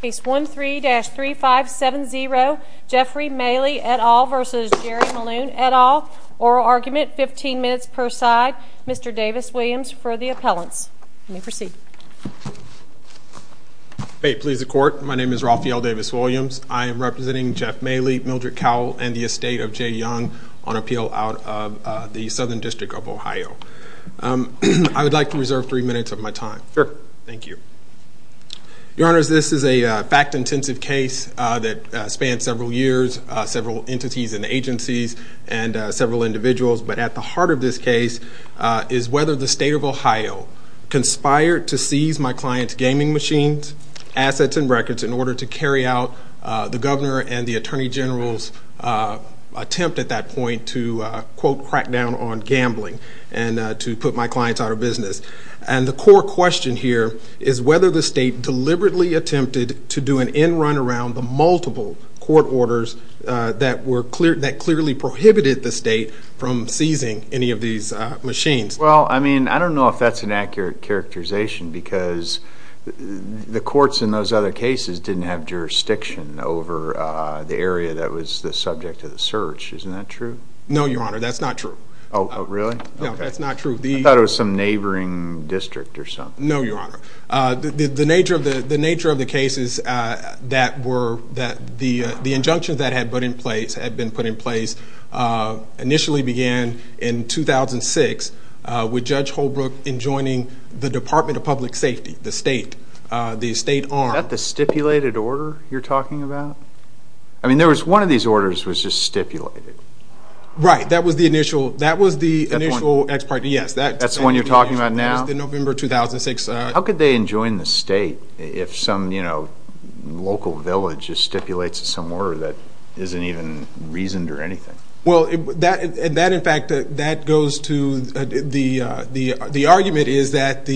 Case 13-3570, Jeffrey Mayle, et al. v. Jerry Maloon, et al. Oral argument, 15 minutes per side. Mr. Davis-Williams for the appellants. You may proceed. Please the court. My name is Rafael Davis-Williams. I am representing Jeff Mayle, Mildred Cowell, and the estate of Jay Young on appeal out of the Southern District of Ohio. I would like to reserve three minutes of my time. Sure. Thank you. Your honors, this is a fact-intensive case that spans several years, several entities and agencies, and several individuals. But at the heart of this case is whether the state of Ohio conspired to seize my client's gaming machines, assets, and records in order to carry out the governor and the attorney general's attempt at that point to, quote, crack down on gambling and to put my clients out of business. And the core question here is whether the state deliberately attempted to do an end run around the multiple court orders that clearly prohibited the state from seizing any of these machines. Well, I mean, I don't know if that's an accurate characterization, because the courts in those other cases didn't have jurisdiction over the area that was the subject of the search. Isn't that true? No, your honor, that's not true. Oh, really? No, that's not true. I thought it was some neighboring district or something. No, your honor. The nature of the case is that the injunctions that had been put in place initially began in 2006 with Judge Holbrook enjoining the Department of Public Safety, the state arm. Is that the stipulated order you're talking about? I mean, one of these orders was just stipulated. Right. That was the initial ex parte. Yes. That's the one you're talking about now? That was the November 2006. How could they enjoin the state if some local village just stipulates some order that isn't even reasoned or anything? Well, that, in fact, that goes to the argument is that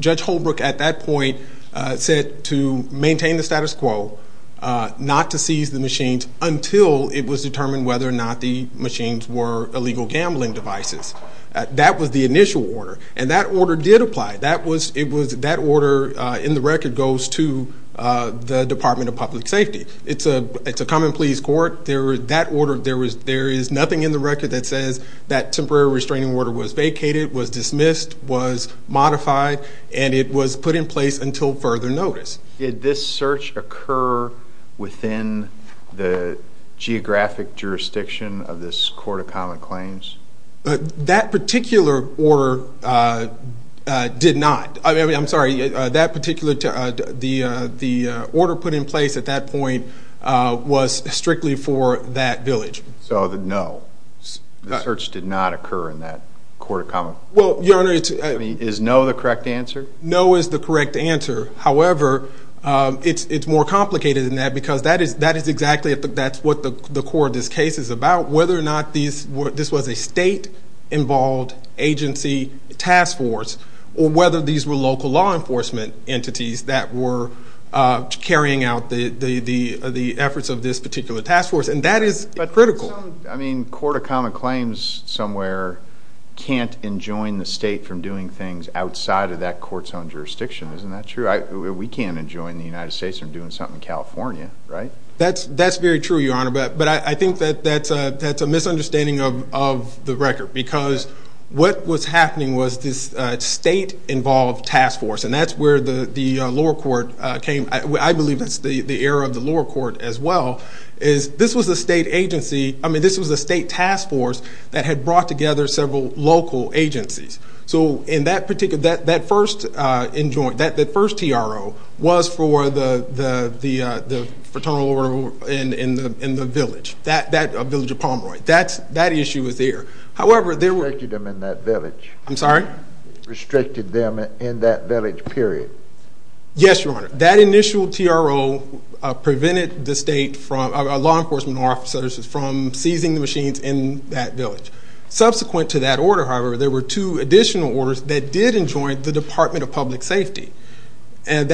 Judge Holbrook at that point said to maintain the status quo. Not to seize the machines until it was determined whether or not the machines were illegal gambling devices. That was the initial order, and that order did apply. That order in the record goes to the Department of Public Safety. It's a come and please court. There is nothing in the record that says that temporary restraining order was vacated, was dismissed, was modified, and it was put in place until further notice. Did this search occur within the geographic jurisdiction of this Court of Common Claims? That particular order did not. I mean, I'm sorry. That particular, the order put in place at that point was strictly for that village. So the no, the search did not occur in that Court of Common Claims? Well, Your Honor. Is no the correct answer? No is the correct answer. However, it's more complicated than that because that is exactly what the core of this case is about, whether or not this was a state-involved agency task force or whether these were local law enforcement entities that were carrying out the efforts of this particular task force. And that is critical. I mean, Court of Common Claims somewhere can't enjoin the state from doing things outside of that court's own jurisdiction. Isn't that true? We can't enjoin the United States from doing something in California, right? That's very true, Your Honor. But I think that that's a misunderstanding of the record because what was happening was this state-involved task force, and that's where the lower court came. I believe that's the error of the lower court as well, is this was a state agency. I mean, this was a state task force that had brought together several local agencies. So that first TRO was for the fraternal order in the village, a village of Pomeroy. That issue was there. However, there were— Restricted them in that village. I'm sorry? Restricted them in that village, period. Yes, Your Honor. That initial TRO prevented the state law enforcement officers from seizing the machines in that village. Subsequent to that order, however, there were two additional orders that did enjoin the Department of Public Safety. And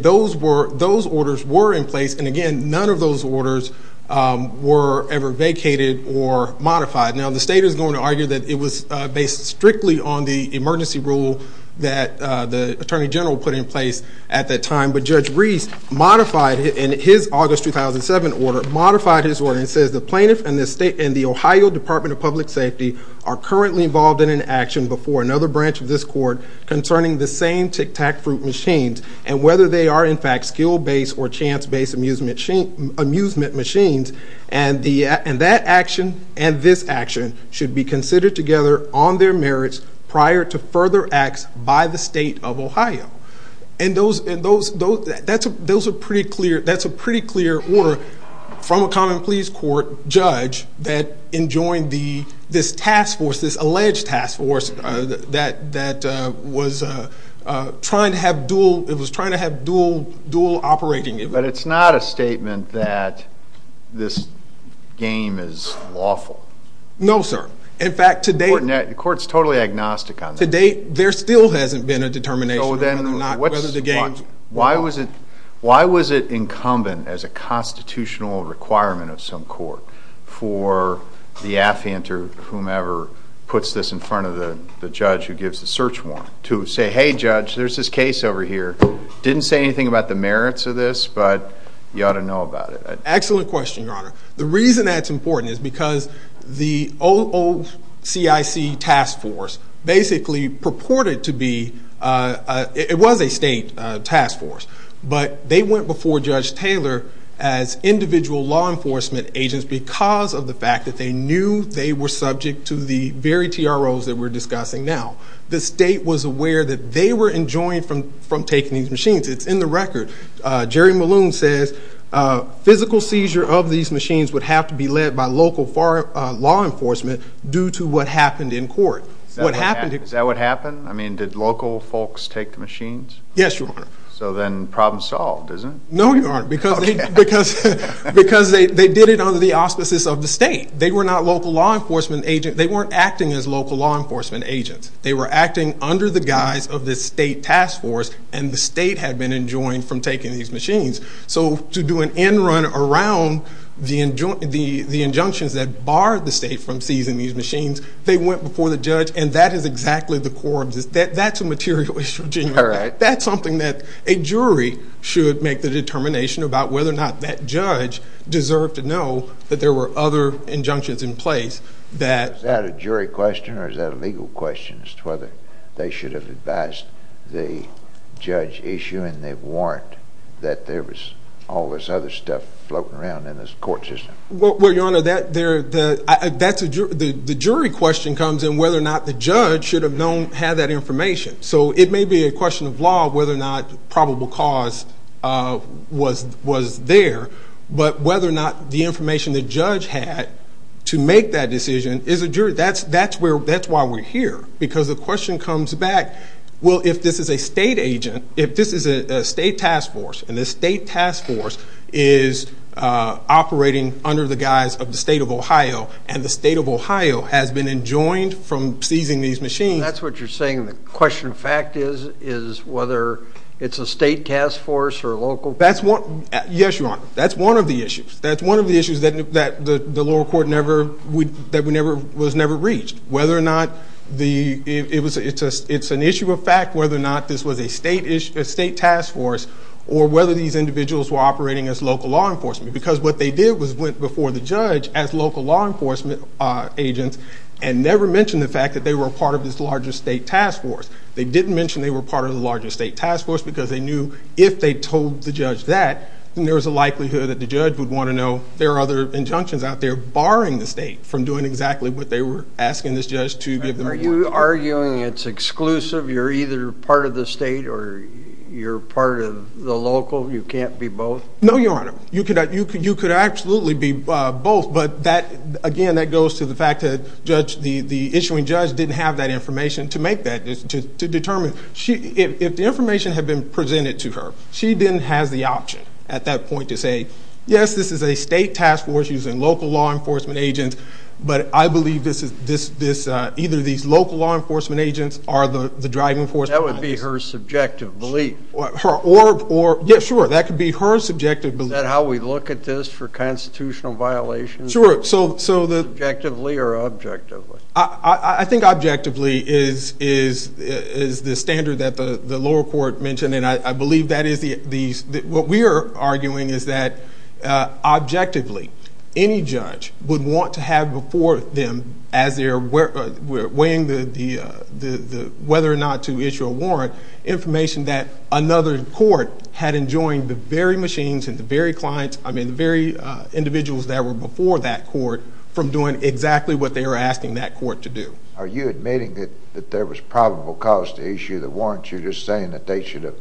those orders were in place, and again, none of those orders were ever vacated or modified. Now, the state is going to argue that it was based strictly on the emergency rule that the Attorney General put in place at that time. But Judge Reese modified, in his August 2007 order, modified his order and says, The plaintiff and the Ohio Department of Public Safety are currently involved in an action before another branch of this court concerning the same Tic-Tac-Fruit machines and whether they are, in fact, skill-based or chance-based amusement machines. And that action and this action should be considered together on their merits prior to further acts by the state of Ohio. And that's a pretty clear order from a Common Pleas Court judge that enjoined this task force, this alleged task force that was trying to have dual operating. But it's not a statement that this game is lawful. No, sir. In fact, to date... The court's totally agnostic on that. To date, there still hasn't been a determination. So then, why was it incumbent, as a constitutional requirement of some court, for the affhanter, whomever puts this in front of the judge who gives the search warrant, to say, Hey, Judge, there's this case over here. Didn't say anything about the merits of this, but you ought to know about it. Excellent question, Your Honor. The reason that's important is because the OOCIC task force basically purported to be, it was a state task force, but they went before Judge Taylor as individual law enforcement agents because of the fact that they knew they were subject to the very TROs that we're discussing now. The state was aware that they were enjoined from taking these machines. It's in the record. Jerry Malone says, Physical seizure of these machines would have to be led by local law enforcement due to what happened in court. Is that what happened? I mean, did local folks take the machines? Yes, Your Honor. So then, problem solved, isn't it? No, Your Honor, because they did it under the auspices of the state. They were not local law enforcement agents. They weren't acting as local law enforcement agents. They were acting under the guise of the state task force, and the state had been enjoined from taking these machines. So to do an end run around the injunctions that barred the state from seizing these machines, they went before the judge, and that is exactly the core of this. That's a material issue. That's something that a jury should make the determination about whether or not that judge deserved to know that there were other injunctions in place. Is that a jury question or is that a legal question as to whether they should have advised the judge issuing the warrant that there was all this other stuff floating around in this court system? Well, Your Honor, the jury question comes in whether or not the judge should have had that information. So it may be a question of law whether or not probable cause was there, but whether or not the information the judge had to make that decision is a jury. That's why we're here because the question comes back, well, if this is a state agent, if this is a state task force, and the state task force is operating under the guise of the state of Ohio, and the state of Ohio has been enjoined from seizing these machines. That's what you're saying. The question of fact is whether it's a state task force or a local? Yes, Your Honor. That's one of the issues. That's one of the issues that the lower court was never reached. Whether or not it's an issue of fact, whether or not this was a state task force, or whether these individuals were operating as local law enforcement. Because what they did was went before the judge as local law enforcement agents and never mentioned the fact that they were part of this larger state task force. They didn't mention they were part of the larger state task force because they knew if they told the judge that, then there was a likelihood that the judge would want to know there are other injunctions out there barring the state from doing exactly what they were asking this judge to give them. Are you arguing it's exclusive? You're either part of the state or you're part of the local? You can't be both? No, Your Honor. You could absolutely be both. But again, that goes to the fact that the issuing judge didn't have that information to make that, to determine. If the information had been presented to her, she then has the option at that point to say, yes, this is a state task force using local law enforcement agents, but I believe either these local law enforcement agents are the driving force behind this. That would be her subjective belief. Yes, sure. That could be her subjective belief. Is that how we look at this for constitutional violations? Sure. Subjectively or objectively? I think objectively is the standard that the lower court mentioned. What we are arguing is that, objectively, any judge would want to have before them as they're weighing whether or not to issue a warrant, information that another court had enjoined the very machines and the very individuals that were before that court from doing exactly what they were asking that court to do. Are you admitting that there was probable cause to issue the warrant? You're just saying that they should have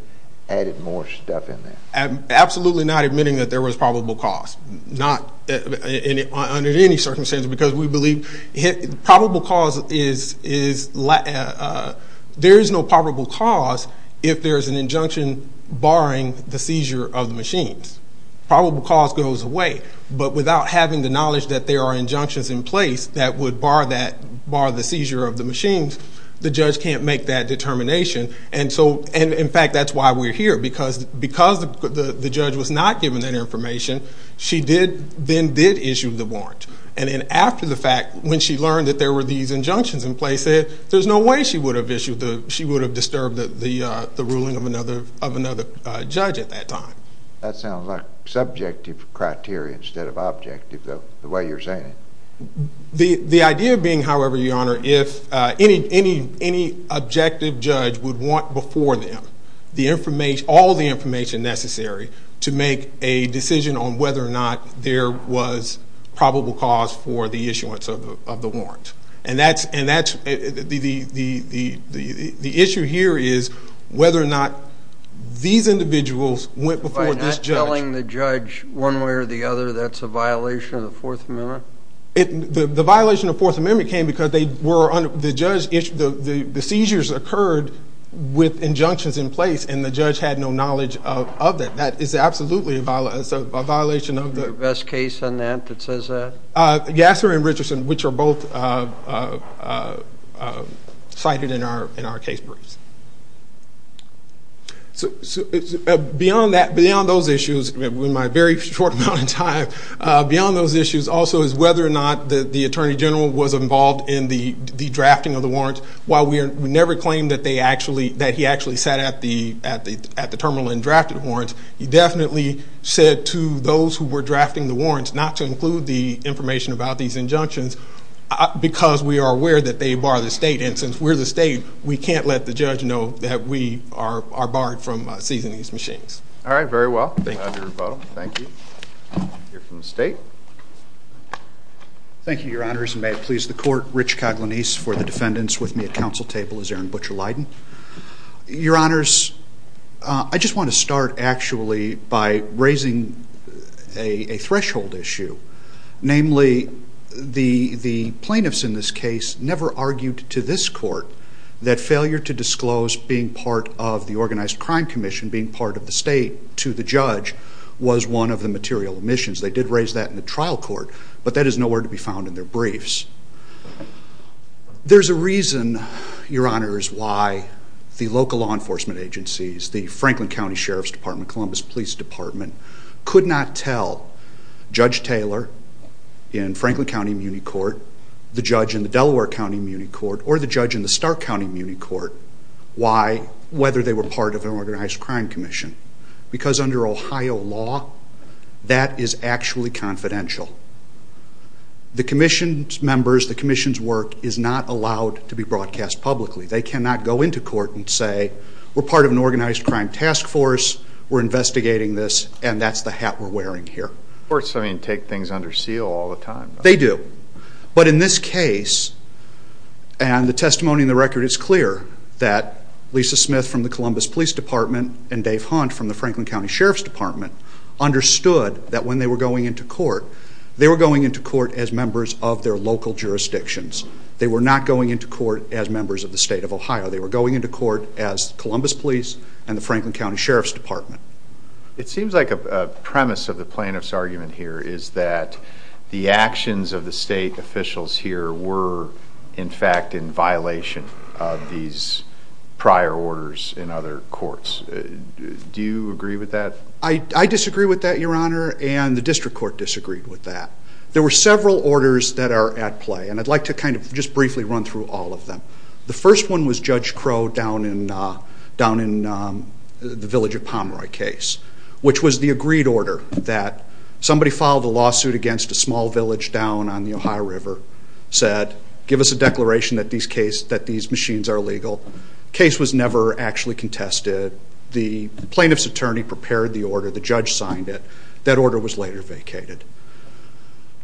added more stuff in there. I'm absolutely not admitting that there was probable cause, not under any circumstances, because we believe probable cause is – there is no probable cause if there is an injunction barring the seizure of the machines. Probable cause goes away, but without having the knowledge that there are injunctions in place that would bar the seizure of the machines, the judge can't make that determination. And, in fact, that's why we're here, because the judge was not given that information. She then did issue the warrant. And then after the fact, when she learned that there were these injunctions in place, there's no way she would have disturbed the ruling of another judge at that time. That sounds like subjective criteria instead of objective, the way you're saying it. The idea being, however, Your Honor, if any objective judge would want before them all the information necessary to make a decision on whether or not there was probable cause for the issuance of the warrant. And that's – the issue here is whether or not these individuals went before this judge. By not telling the judge one way or the other, that's a violation of the Fourth Amendment? The violation of the Fourth Amendment came because the seizures occurred with injunctions in place, and the judge had no knowledge of that. That is absolutely a violation of the – Is there a best case on that that says that? Yasser and Richardson, which are both cited in our case briefs. Beyond those issues, in my very short amount of time, beyond those issues also is whether or not the Attorney General was involved in the drafting of the warrant. While we never claimed that they actually – that he actually sat at the terminal and drafted warrants, he definitely said to those who were drafting the warrants not to include the information about these injunctions because we are aware that they bar the state. And since we're the state, we can't let the judge know that we are barred from seizing these machines. All right. Very well. Thank you. We'll hear from the state. Thank you, Your Honors. And may it please the Court, Rich Coglianese for the defendants. With me at council table is Aaron Butcher-Lydon. Your Honors, I just want to start actually by raising a threshold issue. Namely, the plaintiffs in this case never argued to this court that failure to disclose being part of the Organized Crime Commission, being part of the state to the judge, was one of the material omissions. They did raise that in the trial court, but that is nowhere to be found in their briefs. There's a reason, Your Honors, why the local law enforcement agencies, the Franklin County Sheriff's Department, Columbus Police Department, could not tell Judge Taylor in Franklin County Muni Court, the judge in the Delaware County Muni Court, or the judge in the Stark County Muni Court whether they were part of an Organized Crime Commission because under Ohio law, that is actually confidential. The Commission's members, the Commission's work, is not allowed to be broadcast publicly. They cannot go into court and say, we're part of an Organized Crime Task Force, we're investigating this, and that's the hat we're wearing here. Courts, I mean, take things under seal all the time. They do. But in this case, and the testimony in the record is clear, that Lisa Smith from the Columbus Police Department and Dave Hunt from the Franklin County Sheriff's Department understood that when they were going into court, they were going into court as members of their local jurisdictions. They were not going into court as members of the state of Ohio. They were going into court as Columbus Police and the Franklin County Sheriff's Department. It seems like a premise of the plaintiff's argument here is that the actions of the state officials here were, in fact, in violation of these prior orders in other courts. Do you agree with that? I disagree with that, Your Honor, and the District Court disagreed with that. There were several orders that are at play, and I'd like to kind of just briefly run through all of them. The first one was Judge Crow down in the Village of Pomeroy case, which was the agreed order that somebody filed a lawsuit against a small village down on the Ohio River, said, give us a declaration that these machines are illegal. The case was never actually contested. The plaintiff's attorney prepared the order. The judge signed it. That order was later vacated.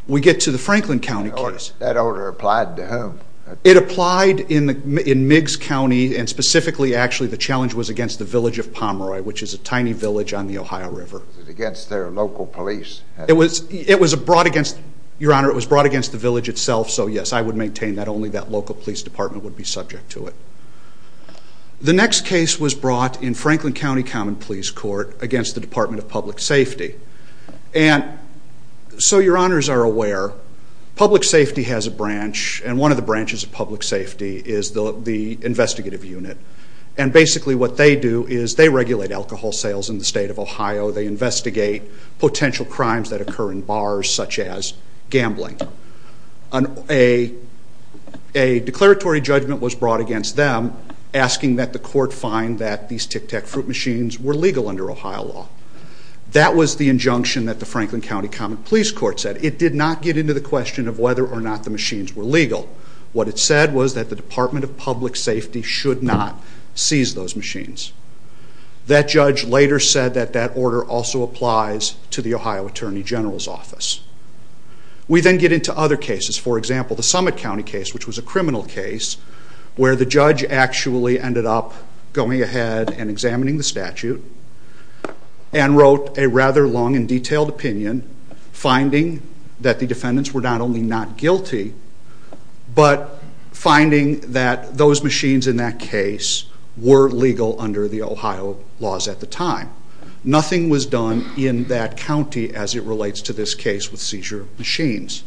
We get to the Franklin County case. That order applied to whom? It applied in Miggs County, and specifically, actually, the challenge was against the Village of Pomeroy, which is a tiny village on the Ohio River. Was it against their local police? It was brought against, Your Honor, it was brought against the village itself, so yes, I would maintain that only that local police department would be subject to it. The next case was brought in Franklin County Common Police Court against the Department of Public Safety. And so Your Honors are aware, public safety has a branch, and one of the branches of public safety is the investigative unit. And basically what they do is they regulate alcohol sales in the state of Ohio. They investigate potential crimes that occur in bars, such as gambling. A declaratory judgment was brought against them, asking that the court find that these Tic Tac Fruit machines were legal under Ohio law. That was the injunction that the Franklin County Common Police Court said. It did not get into the question of whether or not the machines were legal. What it said was that the Department of Public Safety should not seize those machines. That judge later said that that order also applies to the Ohio Attorney General's office. We then get into other cases. For example, the Summit County case, which was a criminal case, where the judge actually ended up going ahead and examining the statute and wrote a rather long and detailed opinion, finding that the defendants were not only not guilty, but finding that those machines in that case were legal under the Ohio laws at the time. Nothing was done in that county as it relates to this case with seizure machines.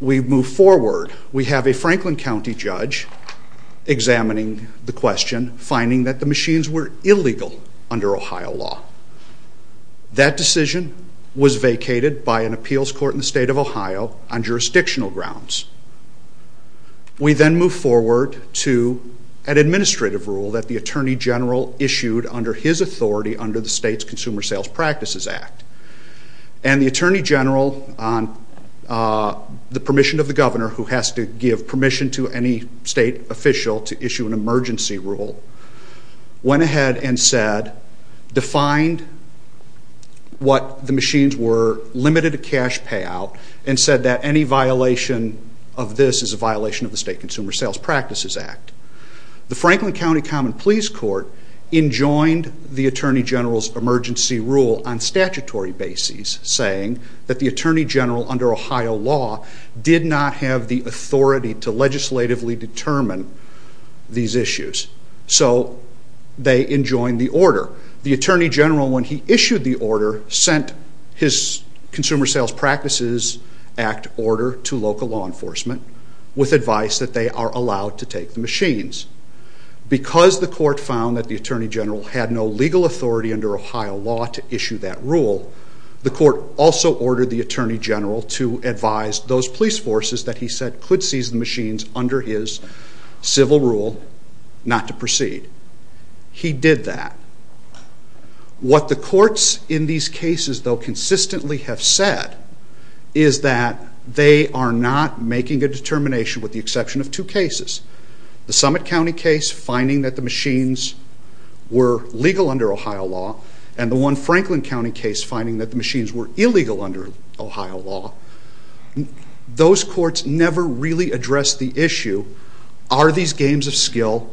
We move forward. We have a Franklin County judge examining the question, finding that the machines were illegal under Ohio law. That decision was vacated by an appeals court in the state of Ohio on jurisdictional grounds. We then move forward to an administrative rule that the Attorney General issued under his authority under the state's Consumer Sales Practices Act. And the Attorney General, on the permission of the governor, who has to give permission to any state official to issue an emergency rule, went ahead and said, defined what the machines were, limited the cash payout, and said that any violation of this is a violation of the state Consumer Sales Practices Act. The Franklin County Common Pleas Court enjoined the Attorney General's emergency rule on statutory basis, saying that the Attorney General, under Ohio law, did not have the authority to legislatively determine these issues. So they enjoined the order. However, the Attorney General, when he issued the order, sent his Consumer Sales Practices Act order to local law enforcement with advice that they are allowed to take the machines. Because the court found that the Attorney General had no legal authority under Ohio law to issue that rule, the court also ordered the Attorney General to advise those police forces that he said could seize the machines under his civil rule not to proceed. He did that. What the courts in these cases, though, consistently have said is that they are not making a determination with the exception of two cases. The Summit County case, finding that the machines were legal under Ohio law, and the one Franklin County case, finding that the machines were illegal under Ohio law. Those courts never really addressed the issue, are these games of skill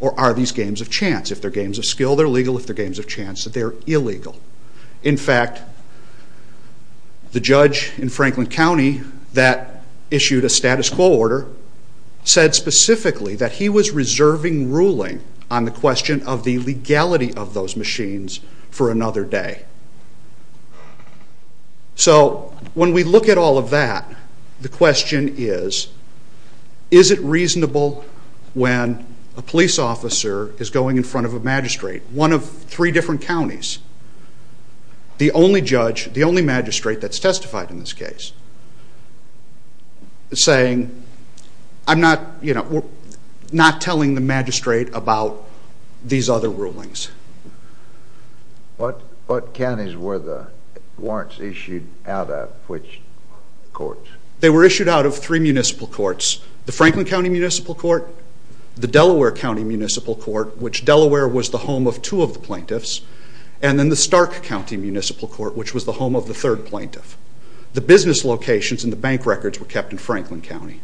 or are these games of chance? If they're games of skill, they're legal. If they're games of chance, they're illegal. In fact, the judge in Franklin County that issued a status quo order said specifically that he was reserving ruling on the question of the legality of those machines for another day. So when we look at all of that, the question is, is it reasonable when a police officer is going in front of a magistrate, one of three different counties, the only magistrate that's testified in this case, saying, I'm not telling the magistrate about these other rulings. What counties were the warrants issued out of, which courts? They were issued out of three municipal courts. The Franklin County Municipal Court, the Delaware County Municipal Court, which Delaware was the home of two of the plaintiffs, and then the Stark County Municipal Court, which was the home of the third plaintiff. The business locations and the bank records were kept in Franklin County.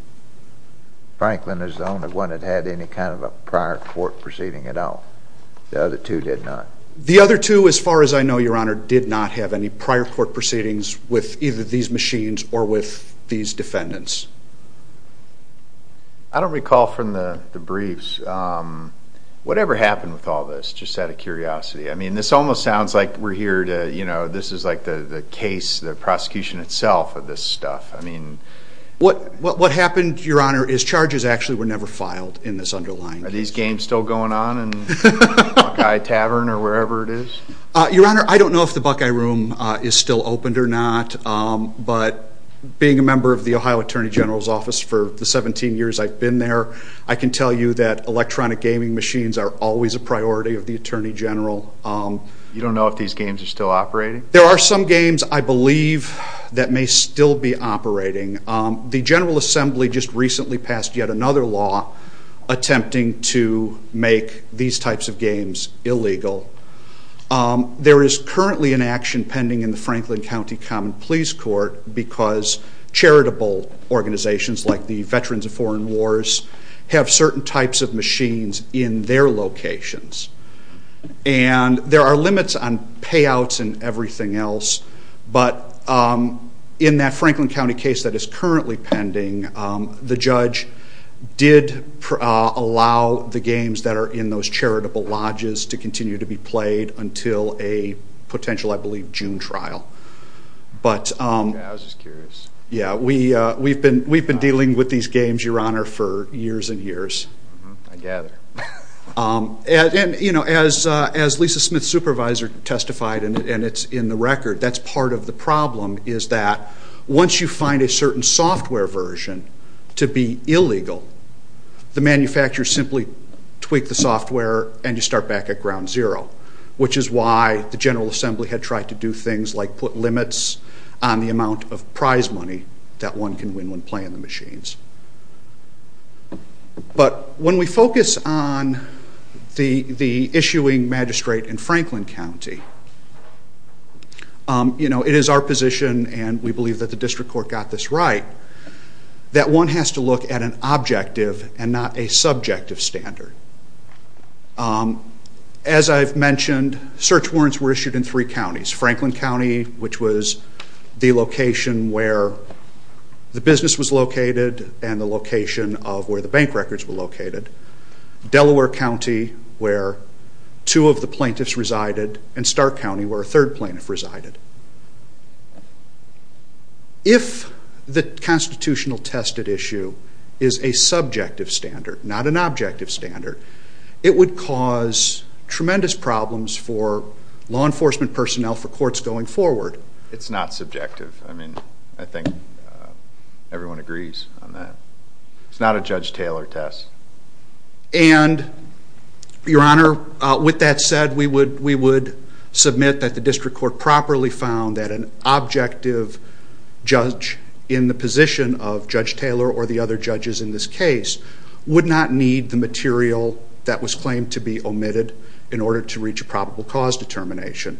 Franklin is the only one that had any kind of a prior court proceeding at all. The other two did not. The other two, as far as I know, Your Honor, did not have any prior court proceedings with either these machines or with these defendants. I don't recall from the briefs. Whatever happened with all this, just out of curiosity? I mean, this almost sounds like we're here to, you know, this is like the case, the prosecution itself of this stuff. What happened, Your Honor, is charges actually were never filed in this underlying case. Are these games still going on in Buckeye Tavern or wherever it is? Your Honor, I don't know if the Buckeye Room is still opened or not, but being a member of the Ohio Attorney General's Office for the 17 years I've been there, I can tell you that electronic gaming machines are always a priority of the Attorney General. You don't know if these games are still operating? There are some games, I believe, that may still be operating. The General Assembly just recently passed yet another law attempting to make these types of games illegal. There is currently an action pending in the Franklin County Common Pleas Court because charitable organizations like the Veterans of Foreign Wars have certain types of machines in their locations. And there are limits on payouts and everything else, but in that Franklin County case that is currently pending, the judge did allow the games that are in those charitable lodges to continue to be played until a potential, I believe, June trial. Yeah, I was just curious. Yeah, we've been dealing with these games, Your Honor, for years and years. I gather. And, you know, as Lisa Smith's supervisor testified, and it's in the record, that's part of the problem is that once you find a certain software version to be illegal, the manufacturers simply tweak the software and you start back at ground zero, which is why the General Assembly had tried to do things like put limits on the amount of prize money that one can win when playing the machines. But when we focus on the issuing magistrate in Franklin County, you know, it is our position, and we believe that the district court got this right, that one has to look at an objective and not a subjective standard. As I've mentioned, search warrants were issued in three counties. Franklin County, which was the location where the business was located and the location of where the bank records were located, Delaware County, where two of the plaintiffs resided, and Stark County, where a third plaintiff resided. If the constitutional tested issue is a subjective standard, not an objective standard, it would cause tremendous problems for law enforcement personnel for courts going forward. It's not subjective. I mean, I think everyone agrees on that. It's not a Judge Taylor test. And, Your Honor, with that said, we would submit that the district court properly found that an objective judge in the position of Judge Taylor or the other judges in this case would not need the material that was claimed to be omitted in order to reach a probable cause determination.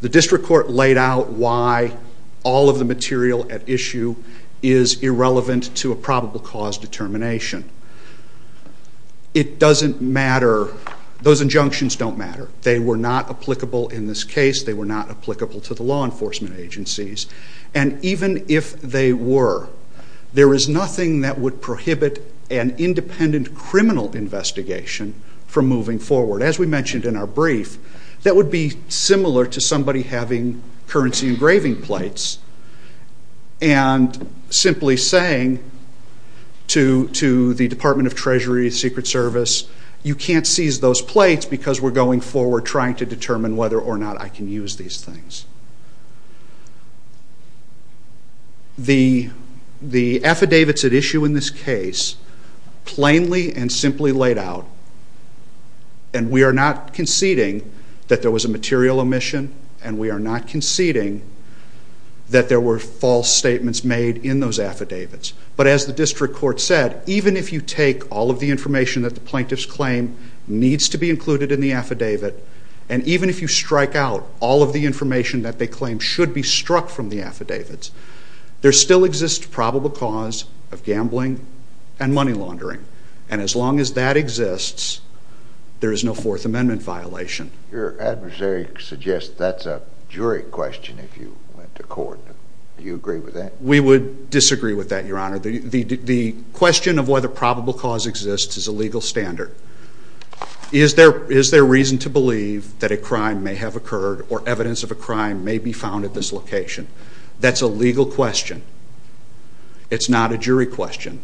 The district court laid out why all of the material at issue is irrelevant to a probable cause determination. It doesn't matter. Those injunctions don't matter. They were not applicable in this case. They were not applicable to the law enforcement agencies. And even if they were, there is nothing that would prohibit an independent criminal investigation from moving forward. As we mentioned in our brief, that would be similar to somebody having currency engraving plates and simply saying to the Department of Treasury, Secret Service, you can't seize those plates because we're going forward and we're trying to determine whether or not I can use these things. The affidavits at issue in this case, plainly and simply laid out, and we are not conceding that there was a material omission and we are not conceding that there were false statements made in those affidavits. But as the district court said, even if you take all of the information that the plaintiffs claim needs to be included in the affidavit, and even if you strike out all of the information that they claim should be struck from the affidavits, there still exists probable cause of gambling and money laundering. And as long as that exists, there is no Fourth Amendment violation. Your adversary suggests that's a jury question if you went to court. Do you agree with that? We would disagree with that, Your Honor. The question of whether probable cause exists is a legal standard. Is there reason to believe that a crime may have occurred or evidence of a crime may be found at this location? That's a legal question. It's not a jury question.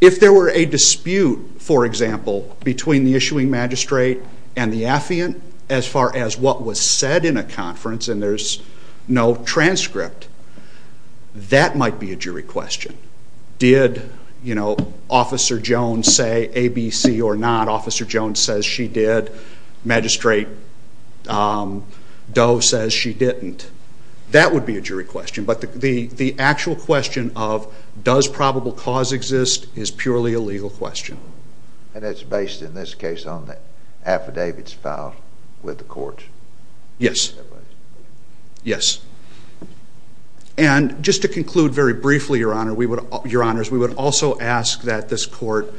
If there were a dispute, for example, between the issuing magistrate and the affiant as far as what was said in a conference and there's no transcript, that might be a jury question. Did Officer Jones say ABC or not? Officer Jones says she did. Magistrate Doe says she didn't. That would be a jury question. But the actual question of does probable cause exist is purely a legal question. And it's based, in this case, on the affidavits filed with the courts? Yes. Yes. And just to conclude very briefly, Your Honors, we would also ask that this court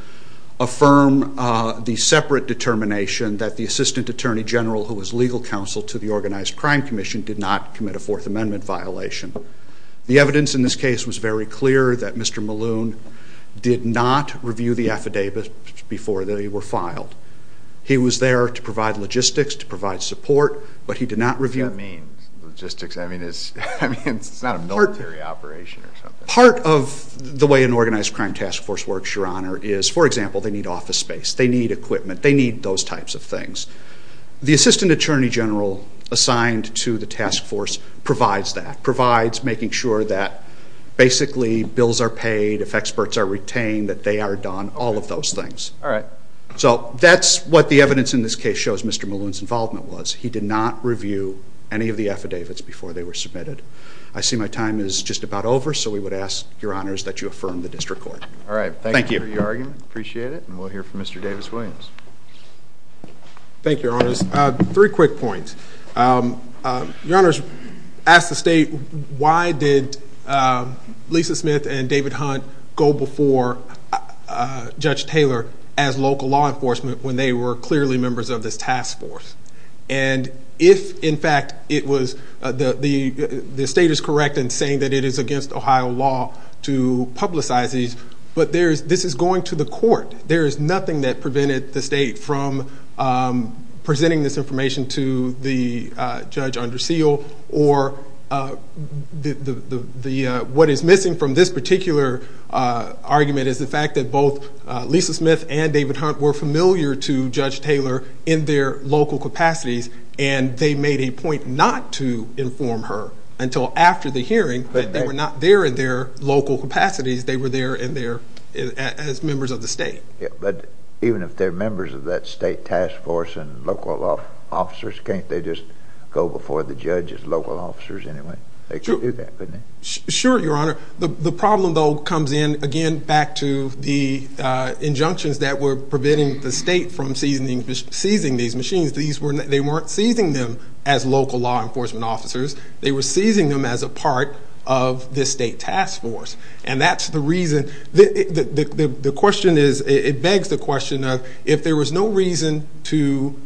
affirm the separate determination that the Assistant Attorney General, who was legal counsel to the Organized Crime Commission, did not commit a Fourth Amendment violation. The evidence in this case was very clear that Mr. Maloon did not review the affidavits before they were filed. He was there to provide logistics, to provide support, but he did not review them. What does that mean, logistics? I mean, it's not a military operation or something. Part of the way an organized crime task force works, Your Honor, is, for example, they need office space, they need equipment, they need those types of things. The Assistant Attorney General assigned to the task force provides that, provides making sure that basically bills are paid, if experts are retained, that they are done, all of those things. So that's what the evidence in this case shows Mr. Maloon's involvement was. He did not review any of the affidavits before they were submitted. I see my time is just about over, so we would ask, Your Honors, that you affirm the district court. All right. Thank you for your argument. Appreciate it. And we'll hear from Mr. Davis-Williams. Thank you, Your Honors. Three quick points. Your Honors, ask the state, why did Lisa Smith and David Hunt go before Judge Taylor as local law enforcement when they were clearly members of this task force? And if, in fact, the state is correct in saying that it is against Ohio law to publicize these, but this is going to the court. There is nothing that prevented the state from presenting this information to the judge under seal, or what is missing from this particular argument is the fact that both Lisa Smith and David Hunt were familiar to Judge Taylor in their local capacities, and they made a point not to inform her until after the hearing that they were not there in their local capacities. They were there as members of the state. But even if they're members of that state task force and local officers, can't they just go before the judge as local officers anyway? They could do that, couldn't they? Sure, Your Honor. The problem, though, comes in, again, back to the injunctions that were preventing the state from seizing these machines. They weren't seizing them as local law enforcement officers. They were seizing them as a part of this state task force. And that's the reason. The question is, it begs the question of, if there was no reason to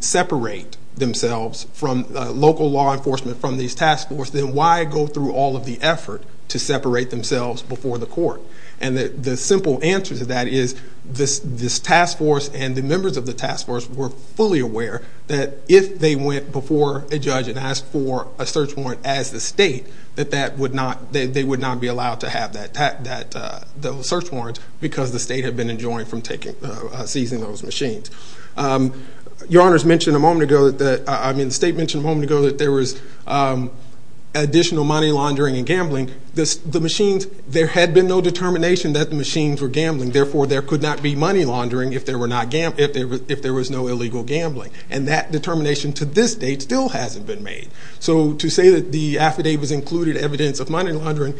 separate themselves from local law enforcement from this task force, then why go through all of the effort to separate themselves before the court? And the simple answer to that is this task force and the members of the task force were fully aware that if they went before a judge and asked for a search warrant as the state, that they would not be allowed to have those search warrants because the state had been enjoined from seizing those machines. Your Honors mentioned a moment ago that there was additional money laundering and gambling. There had been no determination that the machines were gambling. Therefore, there could not be money laundering if there was no illegal gambling. And that determination to this date still hasn't been made. So to say that the affidavits included evidence of money laundering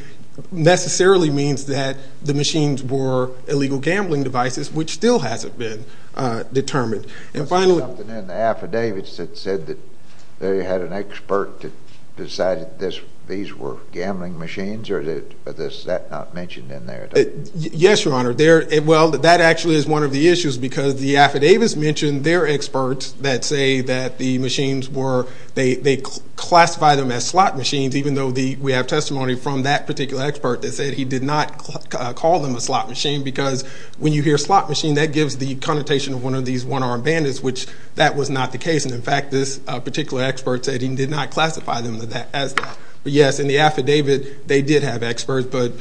necessarily means that the machines were illegal gambling devices, which still hasn't been determined. There was something in the affidavits that said that they had an expert that decided these were gambling machines, or is that not mentioned in there? Yes, Your Honor. Well, that actually is one of the issues because the affidavits mention their experts that say that the machines were, they classify them as slot machines, even though we have testimony from that particular expert that said he did not call them a slot machine because when you hear slot machine, that gives the connotation of one of these one-armed bandits, which that was not the case. And, in fact, this particular expert said he did not classify them as that. But, yes, in the affidavit, they did have experts. But,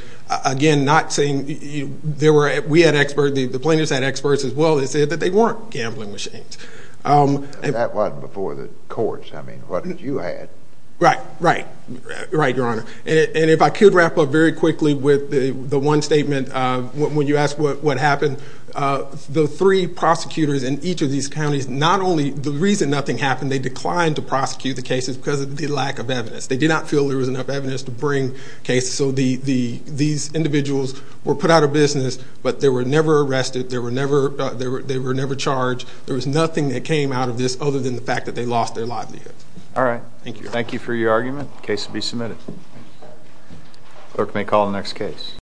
again, not saying there were, we had experts, the plaintiffs had experts as well, that said that they weren't gambling machines. That wasn't before the courts. I mean, what you had. Right, right. Right, Your Honor. And if I could wrap up very quickly with the one statement, when you asked what happened, the three prosecutors in each of these counties, not only the reason nothing happened, they declined to prosecute the cases because of the lack of evidence. They did not feel there was enough evidence to bring cases. So these individuals were put out of business, but they were never arrested. They were never charged. There was nothing that came out of this other than the fact that they lost their livelihood. All right. Thank you. Thank you for your argument. The case will be submitted. Clerk may call the next case.